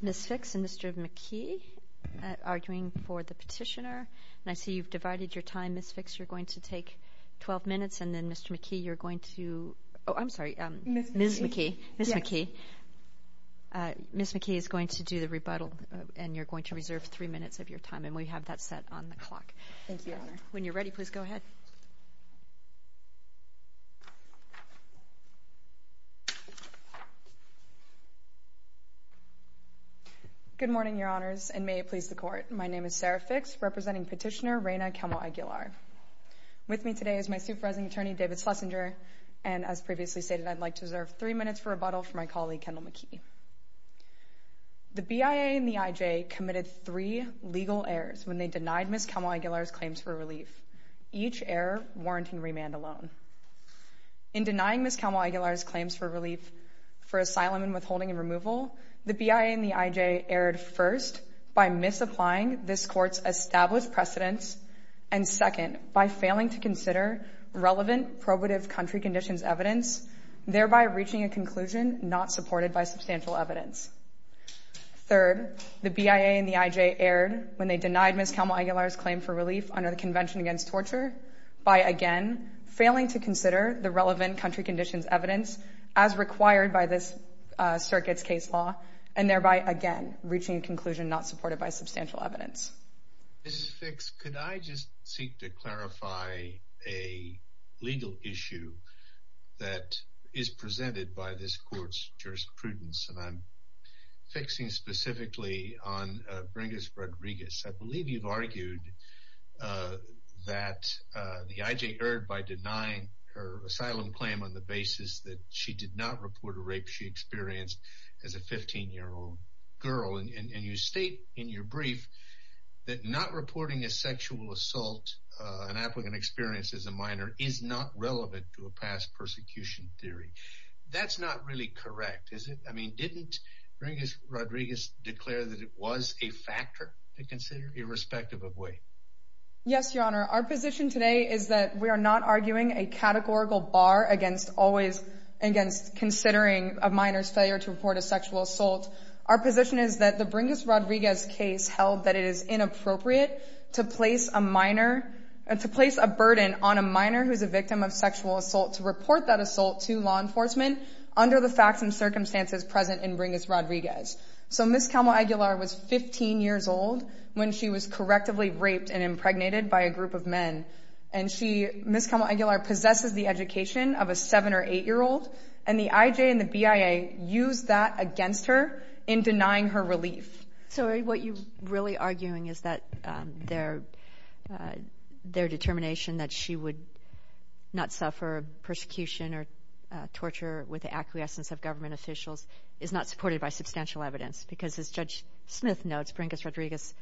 Ms. Fix and Mr. McKee arguing for the petitioner. I see you've divided your time, Ms. Fix. You're going to take 12 minutes, and then, Mr. McKee, you're going to... Oh, I'm sorry. Ms. McKee. Ms. McKee is going to do the rebuttal, and you're going to reserve three minutes of your time, and we have that set on the clock. Thank you, Your Honor. When you're ready, please go ahead. Good morning, Your Honors, and may it please the Court. My name is Sarah Fix, representing petitioner Reyna Calmo-Aguilar. With me today is my Supervising Attorney, David Schlesinger, and as previously stated, I'd like to reserve three minutes for rebuttal for my colleague, Kendall McKee. The BIA and the IJ committed three legal errors when they denied Ms. Calmo-Aguilar's claims for relief, each error warranting remand alone. In denying Ms. Calmo-Aguilar's claims for relief for asylum and withholding and removal, the BIA and the IJ erred first by misapplying this Court's established precedence and, second, by failing to consider relevant probative country conditions evidence, thereby reaching a conclusion not supported by substantial evidence. Third, the BIA and the IJ erred when they denied Ms. Calmo-Aguilar's claim for relief under the Convention Against Torture by, again, failing to consider the relevant country conditions evidence as required by this Circuit's case law, and thereby, again, reaching a conclusion not supported by substantial evidence. Mr. Fix, could I just seek to clarify a legal issue that is presented by this Court's jurisprudence, and I'm fixing specifically on Bringus Rodriguez. I believe you've argued that the IJ erred by denying her asylum claim on the basis that she did not report a rape she experienced as a 15-year-old girl, and you state in your brief that not reporting a sexual assault an applicant experienced as a minor is not relevant to a past persecution theory. That's not really correct, is it? I mean, didn't Bringus Rodriguez declare that it was a factor to consider, irrespective of weight? Yes, Your Honor. Our position today is that we are not arguing a categorical bar against considering a minor's failure to report a sexual assault. Our position is that the Bringus Rodriguez case held that it is inappropriate to place a burden on a minor who is a victim of sexual assault to report that assault to law enforcement under the facts and circumstances present in Bringus Rodriguez. So Ms. Camo Aguilar was 15 years old when she was correctively raped and impregnated by a group of men, and Ms. Camo Aguilar possesses the education of a 7- or 8-year-old, and the IJ and the BIA used that against her in denying her relief. So what you're really arguing is that their determination that she would not suffer persecution or torture with the acquiescence of government officials is not supported by substantial evidence, because as Judge Smith notes, Bringus Rodriguez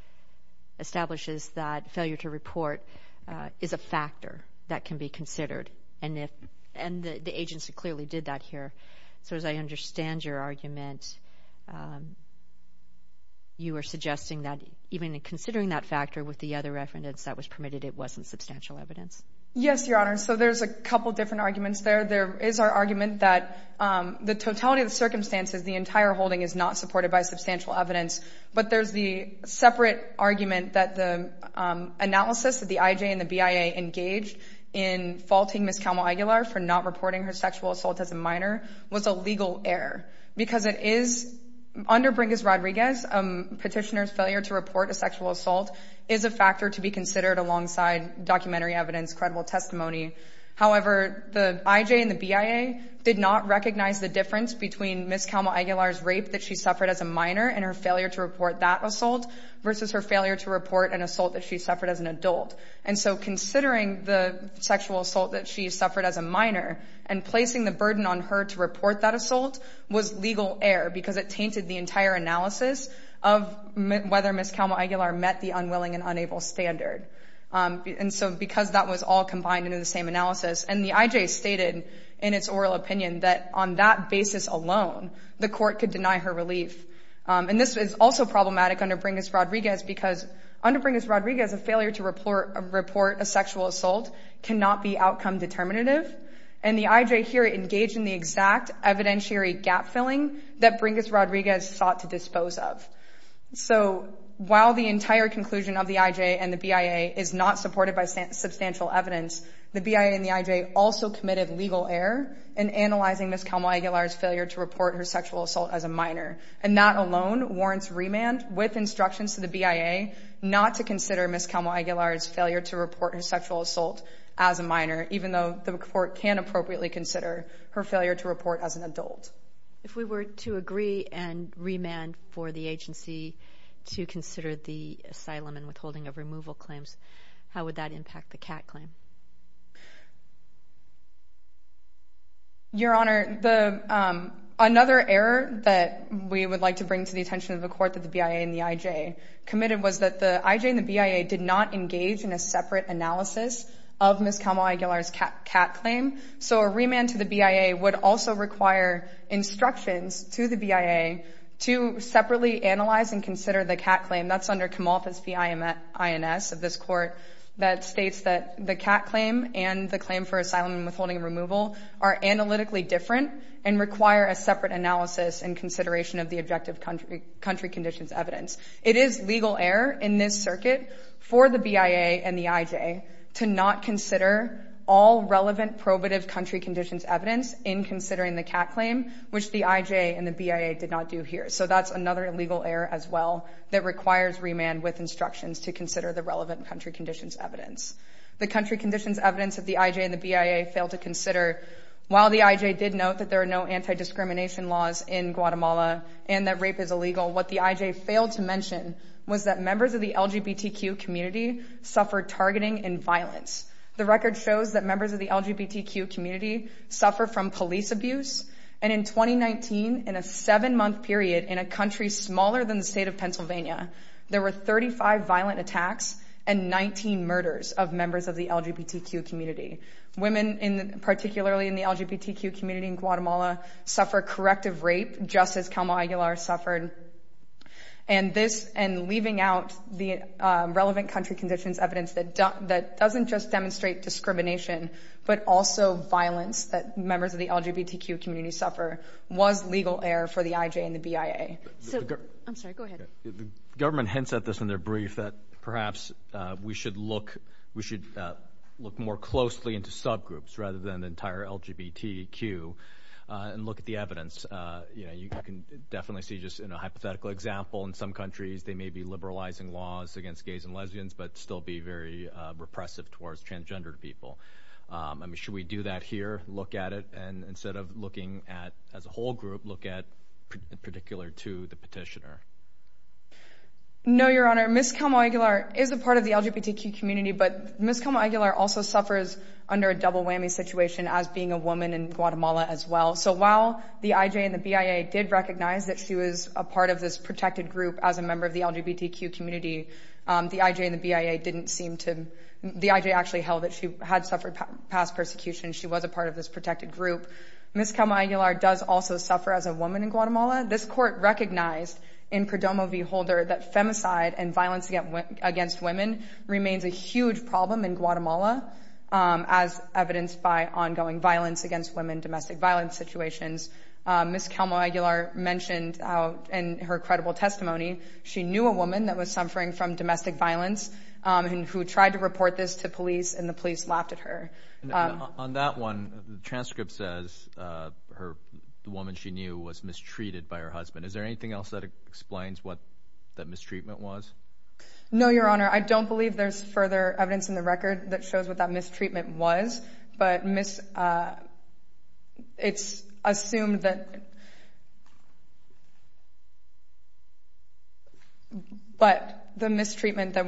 establishes that failure to report is a factor that can be considered, and the agency clearly did that here. So as I understand your argument, you are suggesting that even considering that factor with the other reference that was permitted, it wasn't substantial evidence. Yes, Your Honor. So there's a couple different arguments there. There is our argument that the totality of the circumstances, the entire holding is not supported by substantial evidence, but there's the separate argument that the analysis that the IJ and the BIA engaged in faulting Ms. Camo Aguilar for not reporting her sexual assault as a minor was a legal error, because it is, under Bringus Rodriguez, a petitioner's failure to report a sexual assault is a factor to be considered alongside documentary evidence, credible testimony. However, the IJ and the BIA did not recognize the difference between Ms. Camo Aguilar's rape that she suffered as a minor and her failure to report that assault, versus her failure to report an assault that she suffered as an adult. And so considering the sexual assault that she suffered as a minor and placing the burden on her to report that assault was legal error, because it tainted the entire analysis of whether Ms. Camo Aguilar met the unwilling and unable standard. And so because that was all combined into the same analysis, and the IJ stated in its oral opinion that on that basis alone, the court could deny her relief. And this is also problematic under Bringus Rodriguez, because under Bringus Rodriguez, a failure to report a sexual assault cannot be outcome determinative. And the IJ here engaged in the exact evidentiary gap-filling that Bringus Rodriguez sought to dispose of. So while the entire conclusion of the IJ and the BIA is not supported by substantial evidence, the BIA and the IJ also committed legal error in analyzing Ms. Camo Aguilar's failure to report her sexual assault as a minor. And that alone warrants remand with instructions to the BIA not to consider Ms. Camo Aguilar's failure to report her sexual assault as a minor, even though the court can appropriately consider her failure to report as an adult. If we were to agree and remand for the agency to consider the asylum and withholding of removal claims, how would that impact the CAT claim? Your Honor, another error that we would like to bring to the attention of the court that the BIA and the IJ committed was that the IJ and the BIA did not engage in a separate analysis of Ms. Camo Aguilar's CAT claim. So a remand to the BIA would also require instructions to the BIA to separately analyze and consider the CAT claim. That's under Camalthus v. INS of this court that states that the CAT claim and the claim for asylum and withholding of removal are analytically different and require a separate analysis and consideration of the objective country conditions evidence. It is legal error in this circuit for the BIA and the IJ to not consider all relevant probative country conditions evidence in considering the CAT claim, which the IJ and the BIA did not do here. So that's another illegal error as well that requires remand with instructions to consider the relevant country conditions evidence. The country conditions evidence that the IJ and the BIA failed to consider, while the IJ did note that there are no anti-discrimination laws in Guatemala and that rape is illegal, what the IJ failed to mention was that members of the LGBTQ community suffered targeting and violence. The record shows that members of the LGBTQ community suffer from police abuse, and in 2019, in a seven-month period, in a country smaller than the state of Pennsylvania, there were 35 violent attacks and 19 murders of members of the LGBTQ community. Women, particularly in the LGBTQ community in Guatemala, suffer corrective rape, just as Calma Aguilar suffered. And leaving out the relevant country conditions evidence that doesn't just demonstrate discrimination, but also violence that members of the LGBTQ community suffer was legal error for the IJ and the BIA. I'm sorry, go ahead. The government hints at this in their brief that perhaps we should look more closely into subgroups rather than the entire LGBTQ and look at the evidence. You can definitely see, just in a hypothetical example, in some countries they may be liberalizing laws against gays and lesbians, but still be very repressive towards transgendered people. Should we do that here, look at it, and instead of looking at as a whole group, look at in particular to the petitioner? No, Your Honor. Ms. Calma Aguilar is a part of the LGBTQ community, but Ms. Calma Aguilar also suffers under a double whammy situation as being a woman in Guatemala as well. So while the IJ and the BIA did recognize that she was a part of this protected group as a member of the LGBTQ community, the IJ and the BIA didn't seem to— the IJ actually held that she had suffered past persecution, she was a part of this protected group. Ms. Calma Aguilar does also suffer as a woman in Guatemala. This court recognized in Prodomo v. Holder that femicide and violence against women remains a huge problem in Guatemala as evidenced by ongoing violence against women, domestic violence situations. Ms. Calma Aguilar mentioned in her credible testimony she knew a woman that was suffering from domestic violence and who tried to report this to police and the police laughed at her. On that one, the transcript says the woman she knew was mistreated by her husband. Is there anything else that explains what that mistreatment was? No, Your Honor. I don't believe there's further evidence in the record that shows what that mistreatment was, but it's assumed that— but the mistreatment that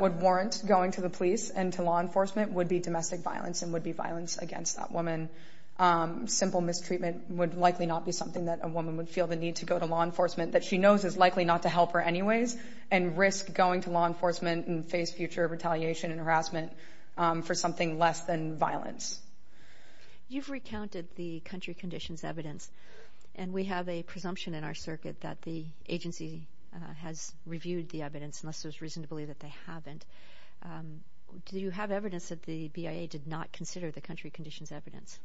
would warrant going to the police and to law enforcement would be domestic violence and would be violence against that woman. Simple mistreatment would likely not be something that a woman would feel the need to go to law enforcement that she knows is likely not to help her anyways and risk going to law enforcement and face future retaliation and harassment for something less than violence. You've recounted the country conditions evidence and we have a presumption in our circuit that the agency has reviewed the evidence unless there's reason to believe that they haven't. Do you have evidence that the BIA did not consider the country conditions evidence?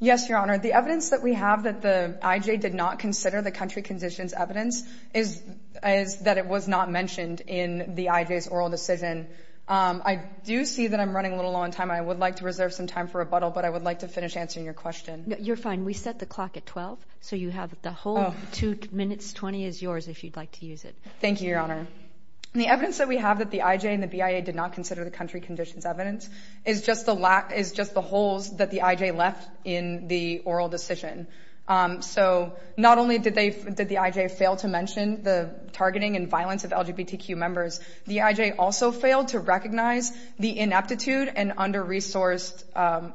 Yes, Your Honor. The evidence that we have that the IJ did not consider the country conditions evidence is that it was not mentioned in the IJ's oral decision. I do see that I'm running a little low on time. I would like to reserve some time for rebuttal, but I would like to finish answering your question. You're fine. We set the clock at 12, so you have the whole 2 minutes 20 is yours if you'd like to use it. Thank you, Your Honor. The evidence that we have that the IJ and the BIA did not consider the country conditions evidence is just the holes that the IJ left in the oral decision. So not only did the IJ fail to mention the targeting and violence of LGBTQ members, the IJ also failed to recognize the ineptitude and under-resourced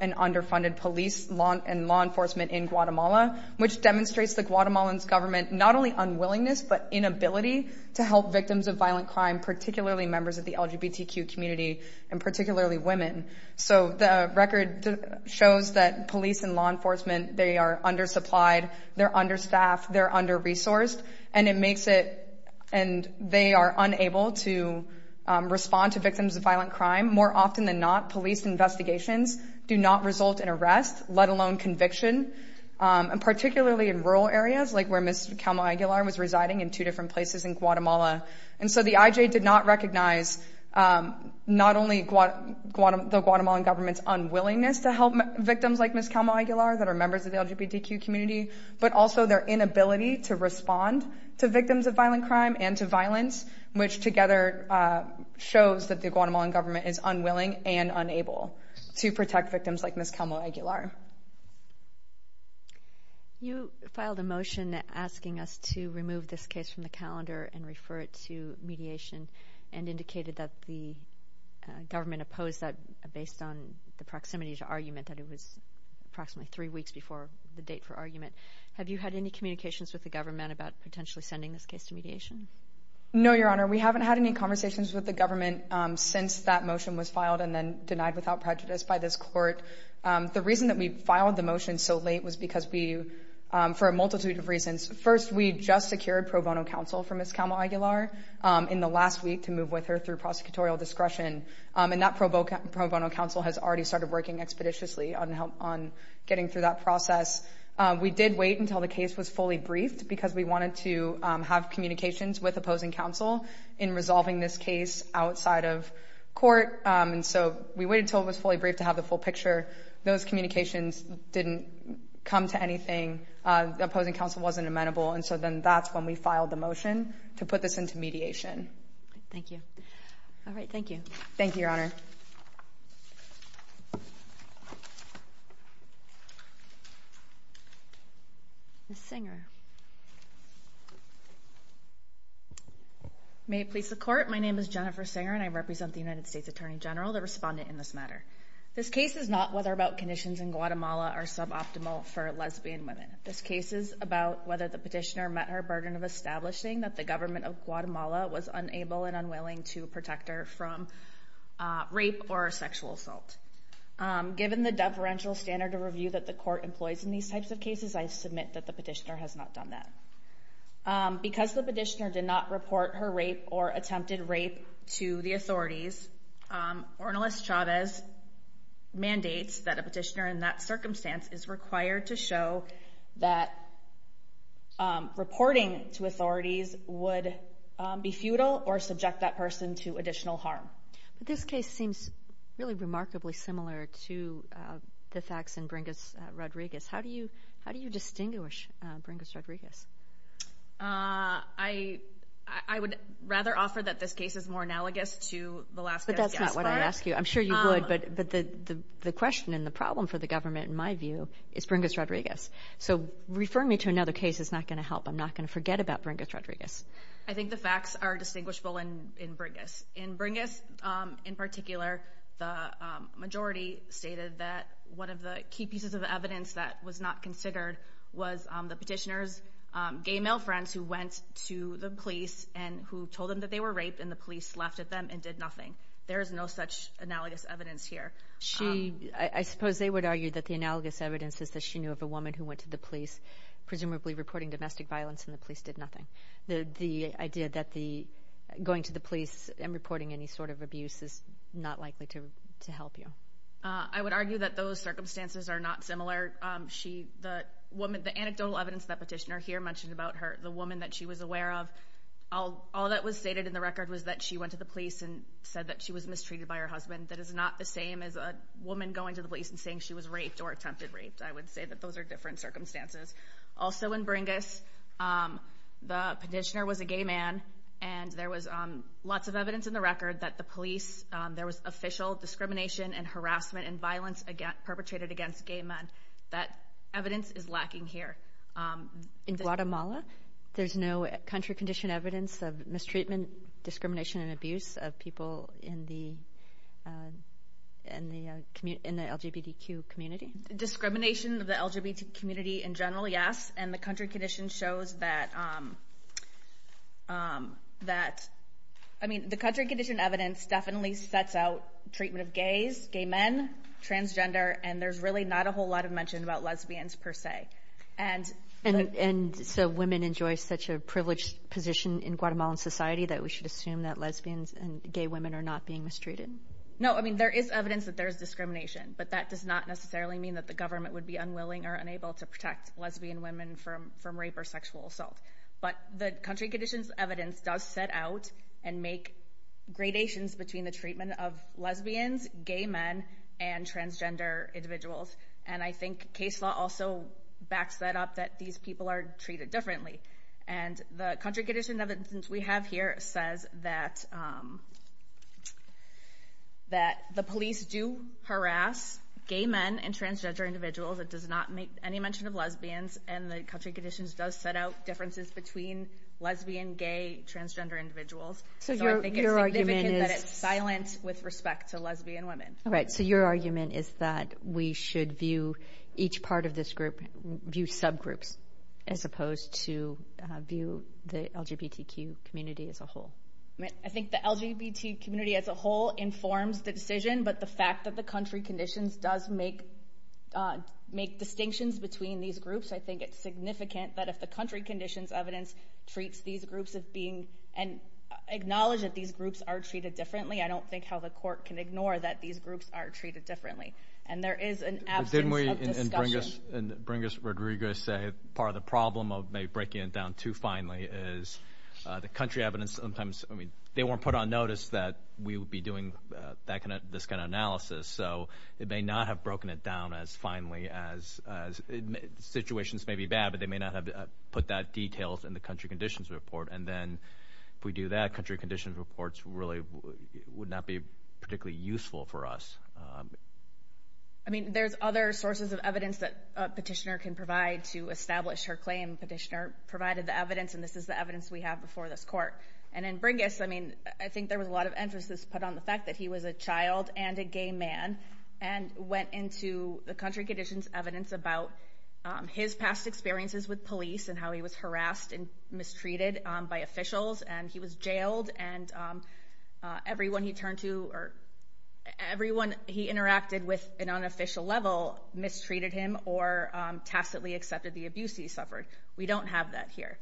and underfunded police and law enforcement in Guatemala, which demonstrates the Guatemalan's government not only unwillingness but inability to help victims of violent crime, particularly members of the LGBTQ community and particularly women. So the record shows that police and law enforcement, they are under-supplied, they're under-staffed, they're under-resourced, and it makes it and they are unable to respond to victims of violent crime. More often than not, police investigations do not result in arrest, let alone conviction. And particularly in rural areas, like where Ms. Calma Aguilar was residing in two different places in Guatemala. And so the IJ did not recognize not only the Guatemalan government's unwillingness to help victims like Ms. Calma Aguilar that are members of the LGBTQ community, but also their inability to respond to victims of violent crime and to violence, which together shows that the Guatemalan government is unwilling and unable to protect victims like Ms. Calma Aguilar. You filed a motion asking us to remove this case from the calendar and refer it to mediation and indicated that the government opposed that based on the proximity to argument that it was approximately three weeks before the date for argument. Have you had any communications with the government about potentially sending this case to mediation? No, Your Honor, we haven't had any conversations with the government since that motion was filed and then denied without prejudice by this court. The reason that we filed the motion so late was because we, for a multitude of reasons. First, we just secured pro bono counsel for Ms. Calma Aguilar in the last week to move with her through prosecutorial discretion. And that pro bono counsel has already started working expeditiously on getting through that process. We did wait until the case was fully briefed because we wanted to have communications with opposing counsel in resolving this case outside of court. And so we waited until it was fully briefed to have the full picture. Those communications didn't come to anything. The opposing counsel wasn't amenable. And so then that's when we filed the motion to put this into mediation. Thank you. All right, thank you. Thank you, Your Honor. Ms. Singer. May it please the Court. My name is Jennifer Singer and I represent the United States Attorney General, the respondent in this matter. This case is not whether or not conditions in Guatemala are suboptimal for lesbian women. This case is about whether the petitioner met her burden of establishing that the government of Guatemala was unable and unwilling to protect her from rape or sexual assault. Given the deferential standard of review that the Court employs in these types of cases, I submit that the petitioner has not done that. Because the petitioner did not report her rape or attempted rape to the authorities, Ornelas Chavez mandates that a petitioner in that circumstance is required to show that reporting to authorities would be futile or subject that person to additional harm. But this case seems really remarkably similar to the facts in Bringus-Rodriguez. How do you distinguish Bringus-Rodriguez? I would rather offer that this case is more analogous to the last case we asked for. But that's not what I asked you. I'm sure you would, but the question and the problem for the government, in my view, is Bringus-Rodriguez. So referring me to another case is not going to help. I'm not going to forget about Bringus-Rodriguez. I think the facts are distinguishable in Bringus. In Bringus, in particular, the majority stated that one of the key pieces of evidence that was not considered was the petitioner's gay male friends who went to the police and who told them that they were raped, and the police laughed at them and did nothing. There is no such analogous evidence here. I suppose they would argue that the analogous evidence is that she knew of a woman who went to the police, presumably reporting domestic violence, and the police did nothing. The idea that going to the police and reporting any sort of abuse is not likely to help you. I would argue that those circumstances are not similar. The anecdotal evidence that the petitioner here mentioned about her, the woman that she was aware of, all that was stated in the record was that she went to the police and said that she was mistreated by her husband. That is not the same as a woman going to the police and saying she was raped or attempted rape. I would say that those are different circumstances. Also in Bringus, the petitioner was a gay man, and there was lots of evidence in the record that the police, there was official discrimination and harassment and violence perpetrated against gay men. That evidence is lacking here. In Guatemala, there's no country condition evidence of mistreatment, discrimination, and abuse of people in the LGBTQ community? Discrimination of the LGBTQ community in general, yes, and the country condition shows that, I mean, the country condition evidence definitely sets out treatment of gays, gay men, transgender, and there's really not a whole lot of mention about lesbians per se. And so women enjoy such a privileged position in Guatemalan society that we should assume that lesbians and gay women are not being mistreated? No, I mean, there is evidence that there is discrimination, but that does not necessarily mean that the government would be unwilling or unable to protect lesbian women from rape or sexual assault. But the country condition's evidence does set out and make gradations between the treatment of lesbians, gay men, and transgender individuals. And I think case law also backs that up, that these people are treated differently. And the country condition evidence we have here says that the police do harass gay men and transgender individuals. It does not make any mention of lesbians. And the country conditions does set out differences between lesbian, gay, transgender individuals. So I think it's significant that it's silent with respect to lesbian women. All right. So your argument is that we should view each part of this group, view subgroups as opposed to view the LGBTQ community as a whole? I think the LGBTQ community as a whole informs the decision, but the fact that the country conditions does make distinctions between these groups, I think it's significant that if the country conditions evidence treats these groups as being and acknowledges that these groups are treated differently, I don't think how the court can ignore that these groups are treated differently. And there is an absence of discussion. Didn't we, in Bringus Rodriguez, say part of the problem of maybe breaking it down too finely is the country evidence sometimes, I mean, they weren't put on notice that we would be doing this kind of analysis. So they may not have broken it down as finely as, situations may be bad, but they may not have put that detail in the country conditions report. And then if we do that, country conditions reports really would not be particularly useful for us. I mean, there's other sources of evidence that a petitioner can provide to establish her claim. Petitioner provided the evidence, and this is the evidence we have before this court. And in Bringus, I mean, I think there was a lot of emphasis put on the fact that he was a child and a gay man, and went into the country conditions evidence about his past experiences with police and how he was harassed and mistreated by officials, and he was jailed, and everyone he turned to, or everyone he interacted with on an unofficial level mistreated him or tacitly accepted the abuse he suffered. We don't have that here.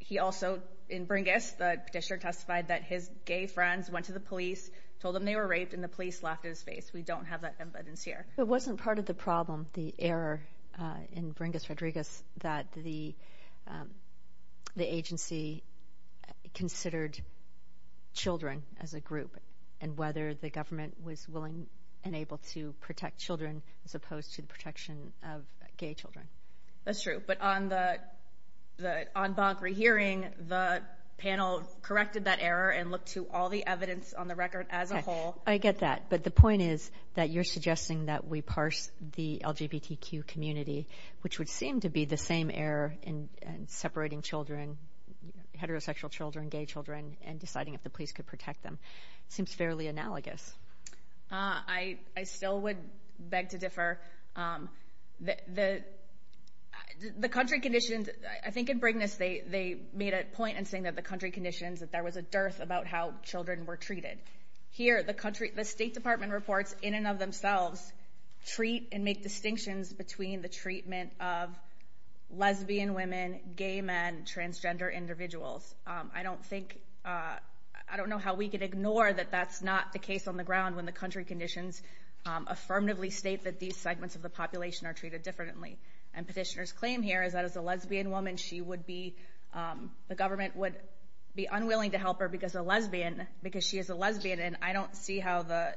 He also, in Bringus, the petitioner testified that his gay friends went to the police, told them they were raped, and the police laughed at his face. We don't have that evidence here. It wasn't part of the problem, the error in Bringus-Rodriguez, that the agency considered children as a group, and whether the government was willing and able to protect children, as opposed to the protection of gay children. That's true. But on Bonk Rehearing, the panel corrected that error and looked to all the evidence on the record as a whole. I get that. But the point is that you're suggesting that we parse the LGBTQ community, which would seem to be the same error in separating children, heterosexual children, gay children, and deciding if the police could protect them. It seems fairly analogous. I still would beg to differ. The country conditions, I think in Bringus, they made a point in saying that the country conditions, that there was a dearth about how children were treated. Here, the State Department reports in and of themselves, treat and make distinctions between the treatment of lesbian women, gay men, transgender individuals. I don't think, I don't know how we could ignore that that's not the case on the ground when the country conditions affirmatively state that these segments of the population are treated differently. And petitioner's claim here is that as a lesbian woman, the government would be unwilling to help her because she is a lesbian. And I don't see how the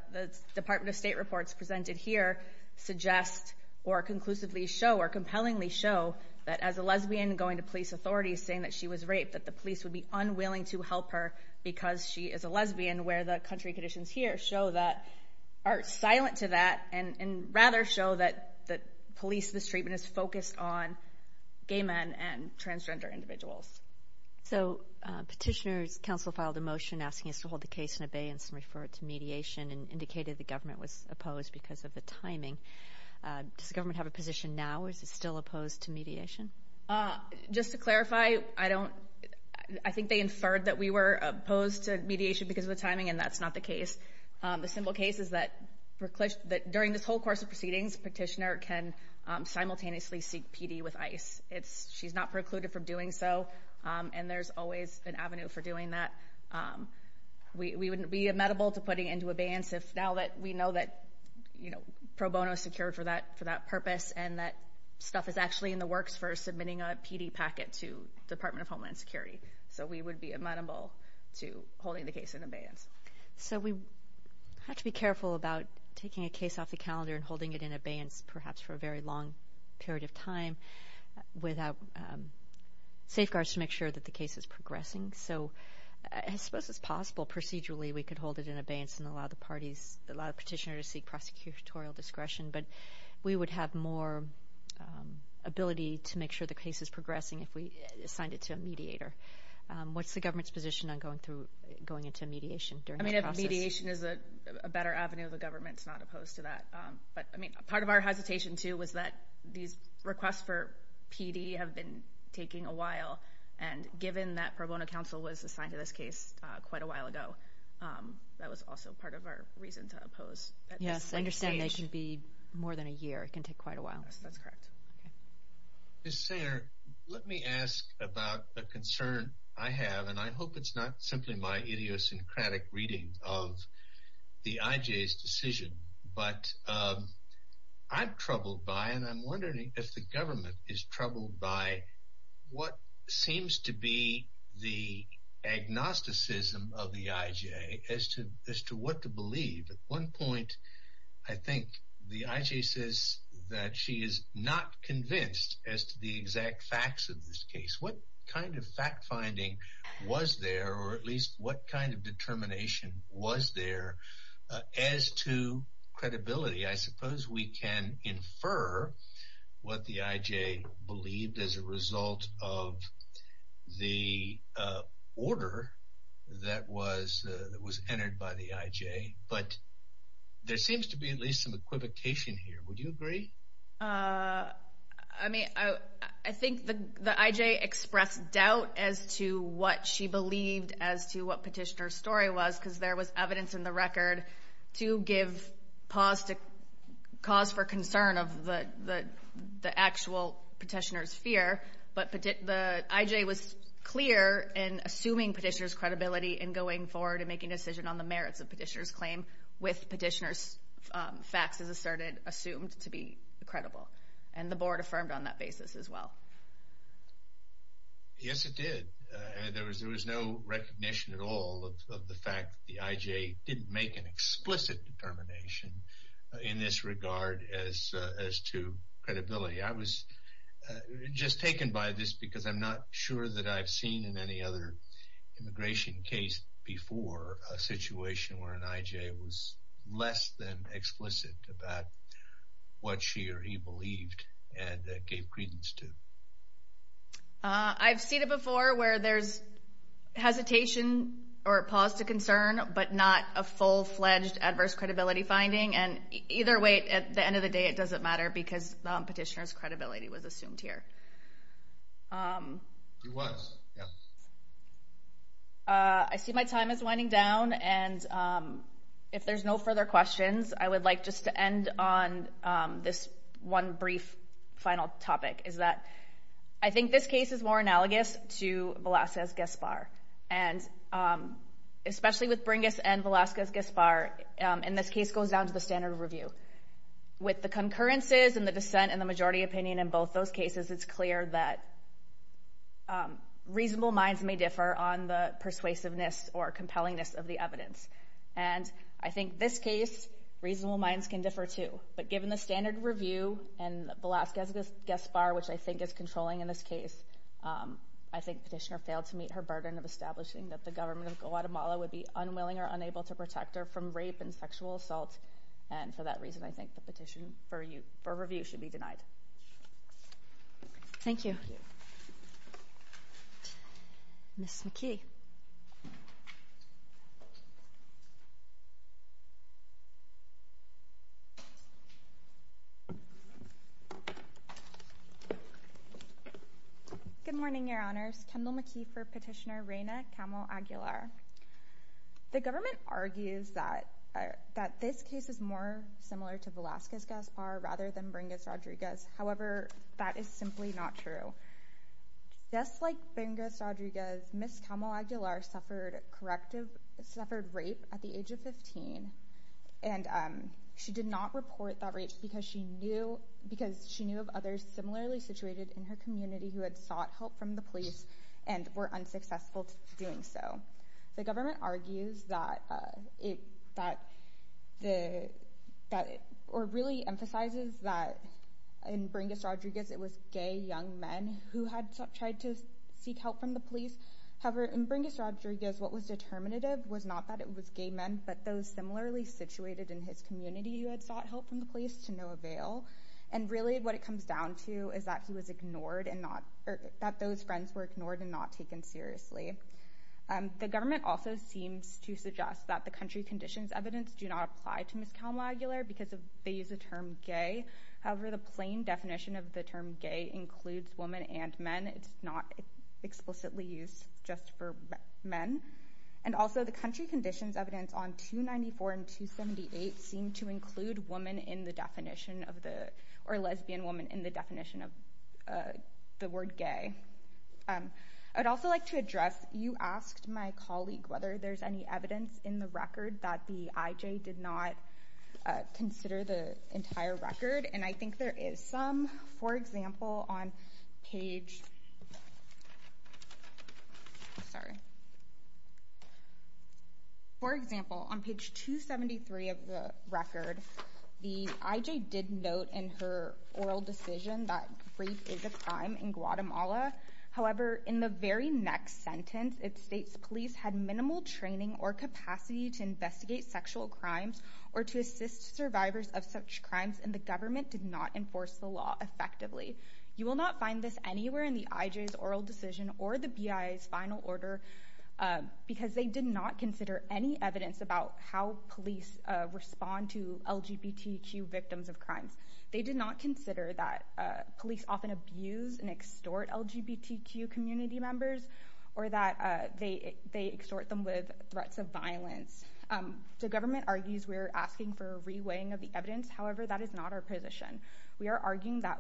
Department of State reports presented here suggest or conclusively show or compellingly show that as a lesbian going to police authorities saying that she was raped, that the police would be unwilling to help her because she is a lesbian, where the country conditions here show that, are silent to that, and rather show that police mistreatment is focused on gay men and transgender individuals. So petitioner's counsel filed a motion asking us to hold the case in abeyance and refer it to mediation and indicated the government was opposed because of the timing. Does the government have a position now or is it still opposed to mediation? Just to clarify, I don't, I think they inferred that we were opposed to mediation because of the timing, and that's not the case. The simple case is that during this whole course of proceedings, petitioner can simultaneously seek PD with ICE. She's not precluded from doing so, and there's always an avenue for doing that. We wouldn't be amenable to putting it into abeyance if now that we know that, you know, pro bono is secured for that purpose and that stuff is actually in the works for submitting a PD packet to Department of Homeland Security. So we would be amenable to holding the case in abeyance. So we have to be careful about taking a case off the calendar and holding it in abeyance perhaps for a very long period of time without safeguards to make sure that the case is progressing. So I suppose it's possible procedurally we could hold it in abeyance and allow the parties, allow the petitioner to seek prosecutorial discretion, if we assigned it to a mediator. What's the government's position on going into mediation during that process? I mean, if mediation is a better avenue, the government's not opposed to that. But, I mean, part of our hesitation, too, was that these requests for PD have been taking a while, and given that pro bono counsel was assigned to this case quite a while ago, that was also part of our reason to oppose. Yes, I understand they can be more than a year. It can take quite a while. Yes, that's correct. Ms. Sayre, let me ask about a concern I have, and I hope it's not simply my idiosyncratic reading of the IJ's decision, but I'm troubled by, and I'm wondering if the government is troubled by, what seems to be the agnosticism of the IJ as to what to believe. At one point, I think the IJ says that she is not convinced as to the exact facts of this case. What kind of fact-finding was there, or at least what kind of determination was there as to credibility? I suppose we can infer what the IJ believed as a result of the order that was entered by the IJ, but there seems to be at least some equivocation here. Would you agree? I think the IJ expressed doubt as to what she believed as to what Petitioner's story was, because there was evidence in the record but the IJ was clear in assuming Petitioner's credibility in going forward and making a decision on the merits of Petitioner's claim with Petitioner's facts as asserted assumed to be credible, and the board affirmed on that basis as well. Yes, it did. There was no recognition at all of the fact that the IJ didn't make an explicit determination in this regard as to credibility. I was just taken by this because I'm not sure that I've seen in any other immigration case before a situation where an IJ was less than explicit about what she or he believed and gave credence to. I've seen it before where there's hesitation or a pause to concern but not a full-fledged adverse credibility finding, and either way at the end of the day it doesn't matter because Petitioner's credibility was assumed here. It was, yes. I see my time is winding down, and if there's no further questions I would like just to end on this one brief final topic, is that I think this case is more analogous to Velazquez-Gaspar, and especially with Bringis and Velazquez-Gaspar, and this case goes down to the standard of review. With the concurrences and the dissent and the majority opinion in both those cases, it's clear that reasonable minds may differ on the persuasiveness or compellingness of the evidence, and I think this case reasonable minds can differ too, but given the standard review and Velazquez-Gaspar, which I think is controlling in this case, I think Petitioner failed to meet her burden of establishing that the government of Guatemala would be unwilling or unable to protect her from rape and sexual assault, and for that reason I think the petition for review should be denied. Thank you. Ms. McKee. Good morning, Your Honors. Kendall McKee for Petitioner Reyna Camel Aguilar. The government argues that this case is more similar to Velazquez-Gaspar rather than Bringis-Rodriguez. However, that is simply not true. Just like Bringis-Rodriguez, Ms. Camel Aguilar suffered rape at the age of 15, and she did not report that rape because she knew of others similarly situated in her community who had sought help from the police and were unsuccessful in doing so. The government argues or really emphasizes that in Bringis-Rodriguez it was gay young men who had tried to seek help from the police. However, in Bringis-Rodriguez what was determinative was not that it was gay men but those similarly situated in his community who had sought help from the police to no avail, and really what it comes down to is that he was ignored and that those friends were ignored and not taken seriously. The government also seems to suggest that the country conditions evidence do not apply to Ms. Camel Aguilar because they use the term gay. However, the plain definition of the term gay includes women and men. It's not explicitly used just for men. And also the country conditions evidence on 294 and 278 seem to include lesbian women in the definition of the word gay. I'd also like to address you asked my colleague whether there's any evidence in the record that the IJ did not consider the entire record, and I think there is some. For example, on page 273 of the record, the IJ did note in her oral decision that rape is a crime in Guatemala. However, in the very next sentence it states police had minimal training or capacity to investigate sexual crimes or to assist survivors of such crimes, and the government did not enforce the law effectively. You will not find this anywhere in the IJ's oral decision or the BI's final order because they did not consider any evidence about how police respond to LGBTQ victims of crimes. They did not consider that police often abuse and extort LGBTQ community members or that they extort them with threats of violence. The government argues we're asking for a re-weighing of the evidence. However, that is not our position. We are arguing that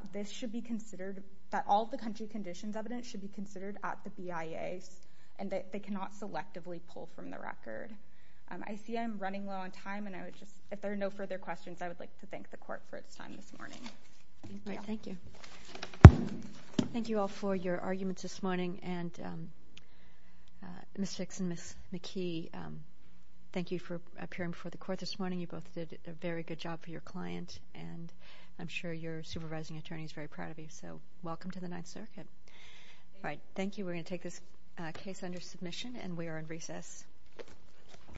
all the country conditions evidence should be considered at the BIA's and that they cannot selectively pull from the record. I see I'm running low on time, and if there are no further questions, I would like to thank the Court for its time this morning. Thank you. Thank you all for your arguments this morning, and Ms. Fix and Ms. McKee, thank you for appearing before the Court this morning. You both did a very good job for your client, and I'm sure your supervising attorney is very proud of you, so welcome to the Ninth Circuit. Thank you. Thank you. We're going to take this case under submission, and we are in recess.